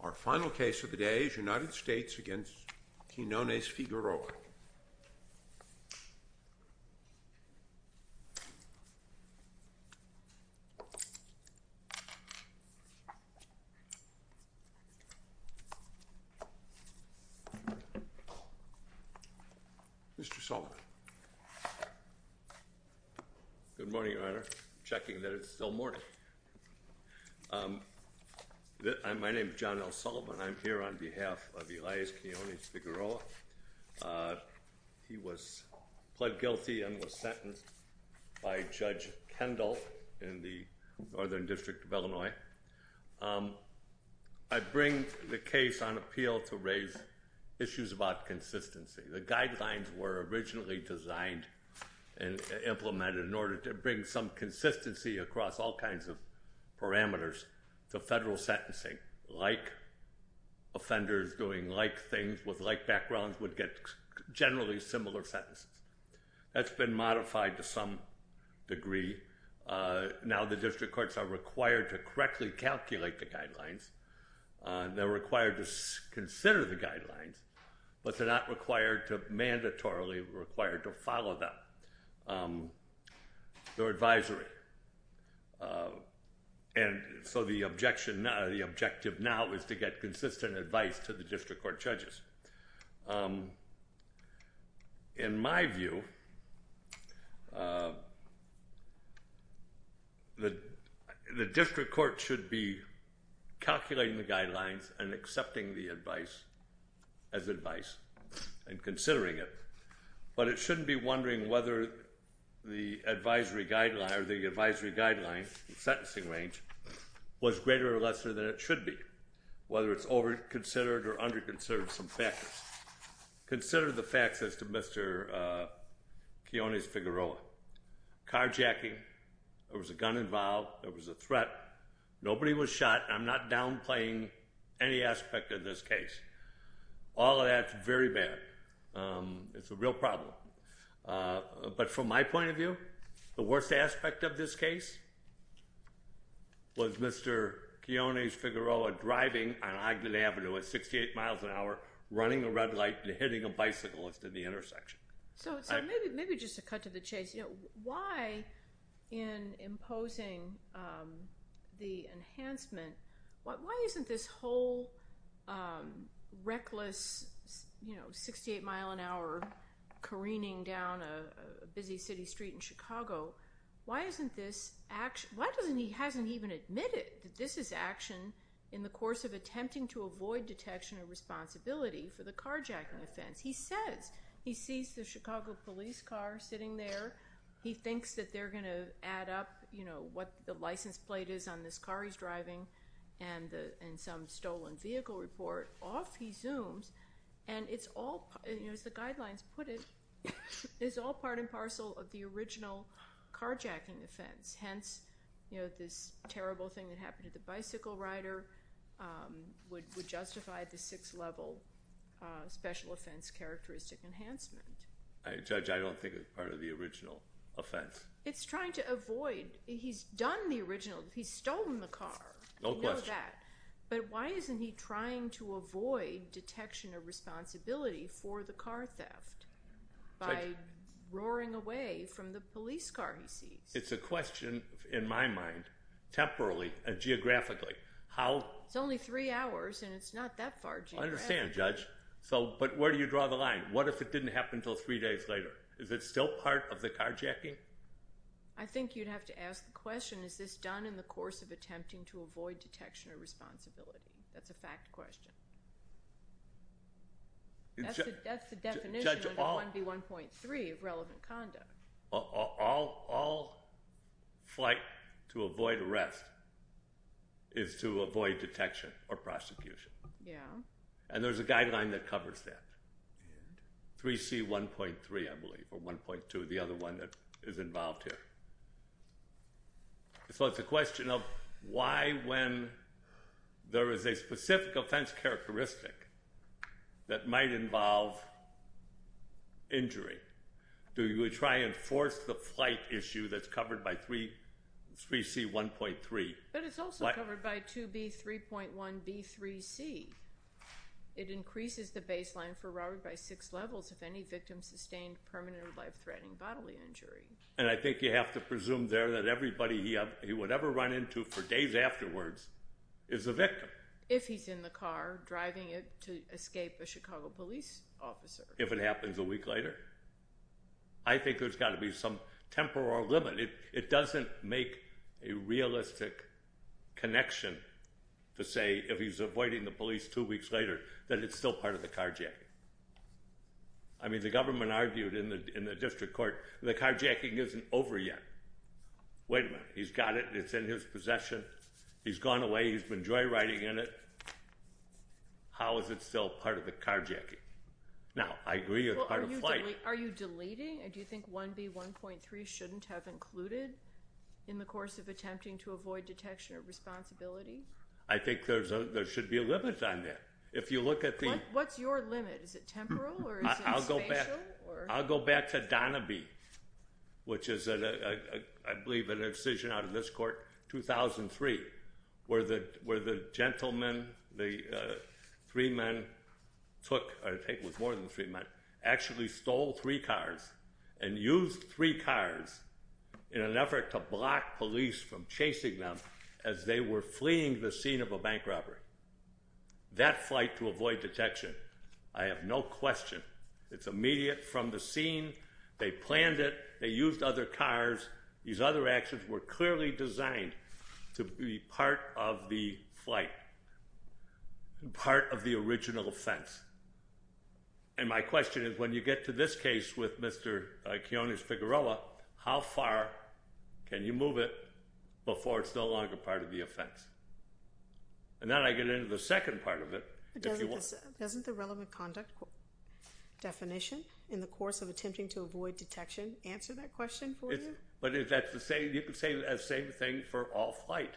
Our final case of the day is United States v. Quinones-Figueroa. Mr. Sullivan. Good morning, Your Honor. I'm checking that it's still morning. My name is John L. Sullivan. I'm here on behalf of Elias Quinones-Figueroa. He was pled guilty and was sentenced by Judge Kendall in the Northern District of Illinois. I bring the case on appeal to raise issues about consistency. The guidelines were originally designed and implemented in order to bring some consistency across all kinds of parameters to federal sentencing. Like offenders doing like things with like backgrounds would get generally similar sentences. That's been modified to some degree. Now the district courts are required to correctly calculate the guidelines. They're required to consider the guidelines, but they're not required to, mandatorily required to follow them. They're advisory. And so the objective now is to get consistent advice to the district court judges. In my view, the district court should be calculating the guidelines and accepting the advice as advice and considering it. But it shouldn't be wondering whether the advisory guideline or the advisory guideline sentencing range was greater or lesser than it should be. Whether it's over-considered or under-considered, some factors. Consider the facts as to Mr. Quinones-Figueroa. Carjacking, there was a gun involved, there was a threat, nobody was shot. I'm not downplaying any aspect of this case. All of that's very bad. It's a real problem. But from my point of view, the worst aspect of this case was Mr. Quinones-Figueroa driving on Ogden Avenue at 68 miles an hour, running a red light and hitting a bicyclist at the intersection. So maybe just to cut to the chase, why in imposing the enhancement, why isn't this whole reckless 68-mile-an-hour careening down a busy city street in Chicago, why hasn't he even admitted that this is action in the course of attempting to avoid detection and responsibility for the carjacking offense? He says, he sees the Chicago police car sitting there. He thinks that they're going to add up what the license plate is on this car he's driving and some stolen vehicle report. Off he zooms, and it's all, as the guidelines put it, it's all part and parcel of the original carjacking offense. Hence, this terrible thing that happened to the bicycle rider would justify the six-level special offense characteristic enhancement. Judge, I don't think it's part of the original offense. It's trying to avoid. He's done the original. He's stolen the car. No question. You know that. But why isn't he trying to avoid detection or responsibility for the car theft by roaring away from the police car he sees? It's a question, in my mind, temporarily and geographically. It's only three hours, and it's not that far. I understand, Judge. But where do you draw the line? What if it didn't happen until three days later? Is it still part of the carjacking? I think you'd have to ask the question, is this done in the course of attempting to avoid detection or responsibility? That's a fact question. That's the definition of 1B1.3 of relevant conduct. All flight to avoid arrest is to avoid detection or prosecution. And there's a guideline that covers that, 3C1.3, I believe, or 1.2, the other one that is involved here. So it's a question of why, when there is a specific offense characteristic that might involve injury, do you try and force the flight issue that's covered by 3C1.3? But it's also covered by 2B3.1B3C. It increases the baseline for robbery by six levels if any victim sustained permanent or life-threatening bodily injury. And I think you have to presume there that everybody he would ever run into for days afterwards is a victim. If he's in the car driving it to escape a Chicago police officer. If it happens a week later. I think there's got to be some temporal limit. It doesn't make a realistic connection to say if he's avoiding the police two weeks later that it's still part of the carjacking. I mean, the government argued in the district court the carjacking isn't over yet. Wait a minute, he's got it, it's in his possession, he's gone away, he's been joyriding in it. How is it still part of the carjacking? Now, I agree it's part of flight. Are you deleting? Do you think 1B1.3 shouldn't have included in the course of attempting to avoid detection of responsibility? I think there should be a limit on that. What's your limit? Is it temporal or is it spatial? I'll go back to Donabee, which is, I believe, an incision out of this court, 2003, where the gentleman, the three men took, I think it was more than three men, actually stole three cars and used three cars in an effort to block police from chasing them as they were fleeing the scene of a bank robbery. That flight to avoid detection, I have no question. It's immediate from the scene. They planned it. They used other cars. These other actions were clearly designed to be part of the flight, part of the original offense. And my question is, when you get to this case with Mr. Kiones-Figueroa, how far can you move it before it's no longer part of the offense? And then I get into the second part of it. Doesn't the relevant conduct definition in the course of attempting to avoid detection answer that question for you? But you could say the same thing for all flight,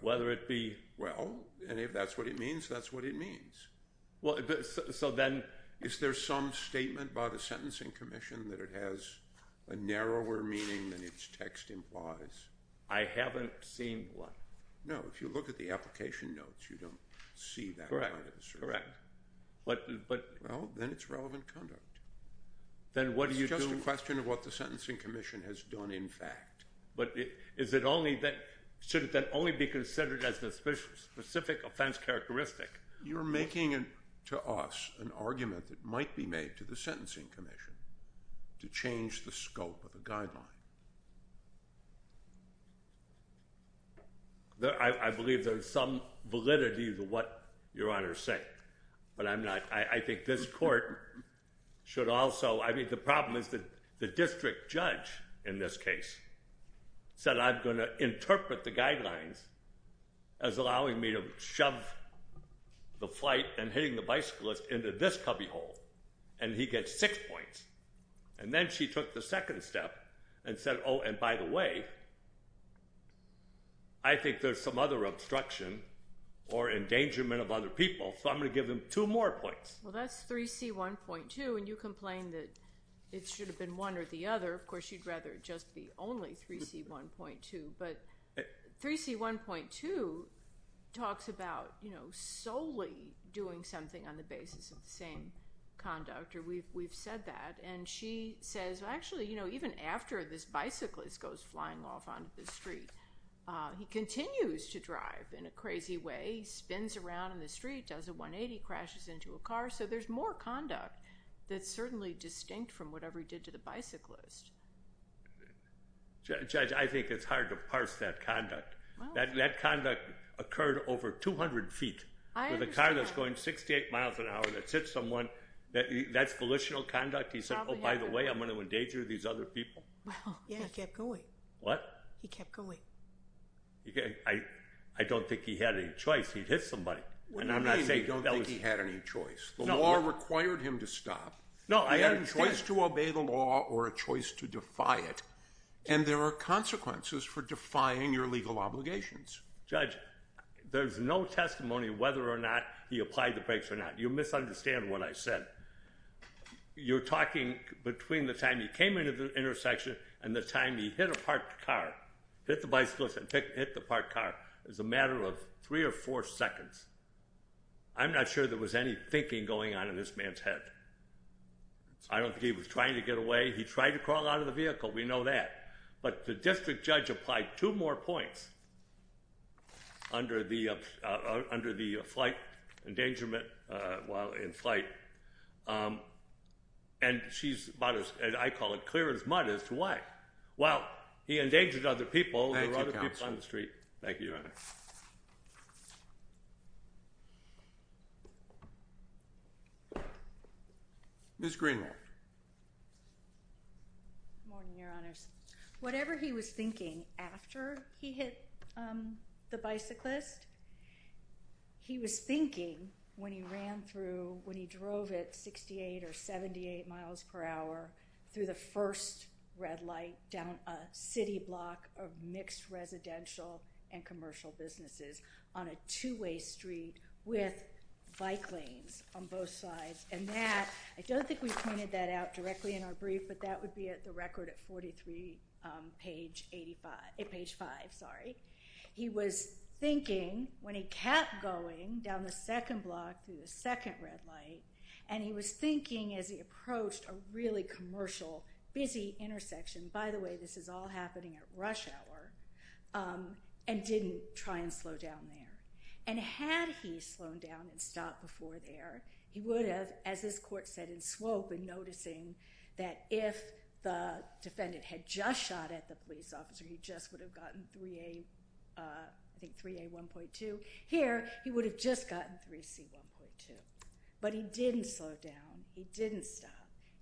whether it be. Well, and if that's what it means, that's what it means. So then. Is there some statement by the Sentencing Commission that it has a narrower meaning than its text implies? I haven't seen one. No, if you look at the application notes, you don't see that. Correct. Correct. Well, then it's relevant conduct. Then what do you do? It's just a question of what the Sentencing Commission has done in fact. But is it only then, should it then only be considered as a specific offense characteristic? You're making to us an argument that might be made to the Sentencing Commission to change the scope of the guideline. I believe there's some validity to what Your Honor is saying. But I'm not. I think this court should also. I mean, the problem is that the district judge in this case said I'm going to interpret the guidelines as allowing me to shove the flight and hitting the bicyclist into this cubbyhole. And he gets six points. And then she took the second step and said, oh, and by the way, I think there's some other obstruction or endangerment of other people, so I'm going to give them two more points. Well, that's 3C1.2, and you complain that it should have been one or the other. Of course, you'd rather it just be only 3C1.2. But 3C1.2 talks about solely doing something on the basis of the same conduct. We've said that. And she says, actually, even after this bicyclist goes flying off onto the street, he continues to drive in a crazy way. He spins around in the street, does a 180, crashes into a car. So there's more conduct that's certainly distinct from whatever he did to the bicyclist. Judge, I think it's hard to parse that conduct. That conduct occurred over 200 feet with a car that's going 68 miles an hour that hits someone. That's volitional conduct? He said, oh, by the way, I'm going to endanger these other people? He kept going. What? He kept going. I don't think he had any choice. He'd hit somebody. What do you mean you don't think he had any choice? The law required him to stop. No, I understand. He had a choice to obey the law or a choice to defy it. And there are consequences for defying your legal obligations. Judge, there's no testimony whether or not he applied the brakes or not. You misunderstand what I said. You're talking between the time he came into the intersection and the time he hit a parked car, hit the bicyclist and hit the parked car. It was a matter of three or four seconds. I'm not sure there was any thinking going on in this man's head. I don't think he was trying to get away. He tried to crawl out of the vehicle. We know that. But the district judge applied two more points under the flight endangerment while in flight. And she's about as, I call it, clear as mud as to why. Well, he endangered other people. Thank you, counsel. There were other people on the street. Thank you, Your Honor. Ms. Greenwald. Good morning, Your Honors. Whatever he was thinking after he hit the bicyclist, he was thinking when he ran through, when he drove at 68 or 78 miles per hour through the first red light down a city block of mixed residential and commercial businesses on a two-way street with bike lanes on both sides. And that, I don't think we pointed that out directly in our brief, but that would be at the record at page five. He was thinking when he kept going down the second block through the second red light, and he was thinking as he approached a really commercial, busy intersection. By the way, this is all happening at rush hour, and didn't try and slow down there. And had he slowed down and stopped before there, he would have, as this court said in Swope, been noticing that if the defendant had just shot at the police officer, he just would have gotten 3A1.2. Here, he would have just gotten 3C1.2. But he didn't slow down. He didn't stop.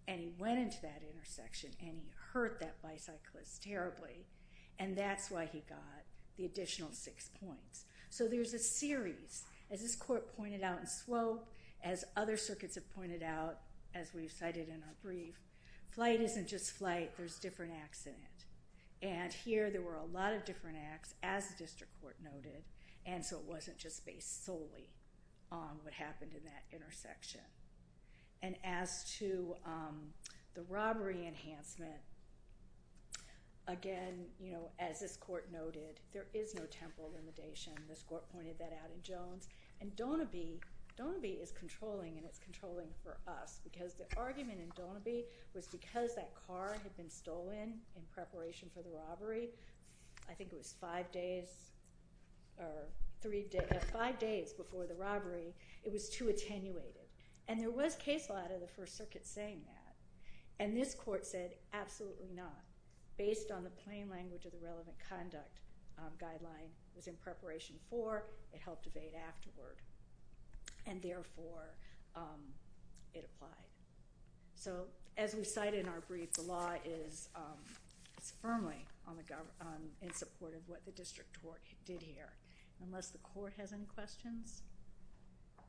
And he went into that intersection, and he hurt that bicyclist terribly. And that's why he got the additional six points. So there's a series. As this court pointed out in Swope, as other circuits have pointed out, as we've cited in our brief, flight isn't just flight. There's different acts in it. And here, there were a lot of different acts, as the district court noted, and so it wasn't just based solely on what happened in that intersection. And as to the robbery enhancement, again, as this court noted, there is no temporal limitation. This court pointed that out in Jones. And Donaby is controlling, and it's controlling for us because the argument in Donaby was because that car had been stolen in preparation for the robbery. It was too attenuated. And there was case law out of the First Circuit saying that. And this court said, absolutely not. Based on the plain language of the relevant conduct guideline, it was in preparation for. It helped evade afterward. And therefore, it applied. So as we cite in our brief, the law is firmly in support of what the district court did here. Unless the court has any questions? I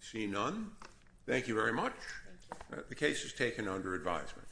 see none. Thank you very much. The case is taken under advisement.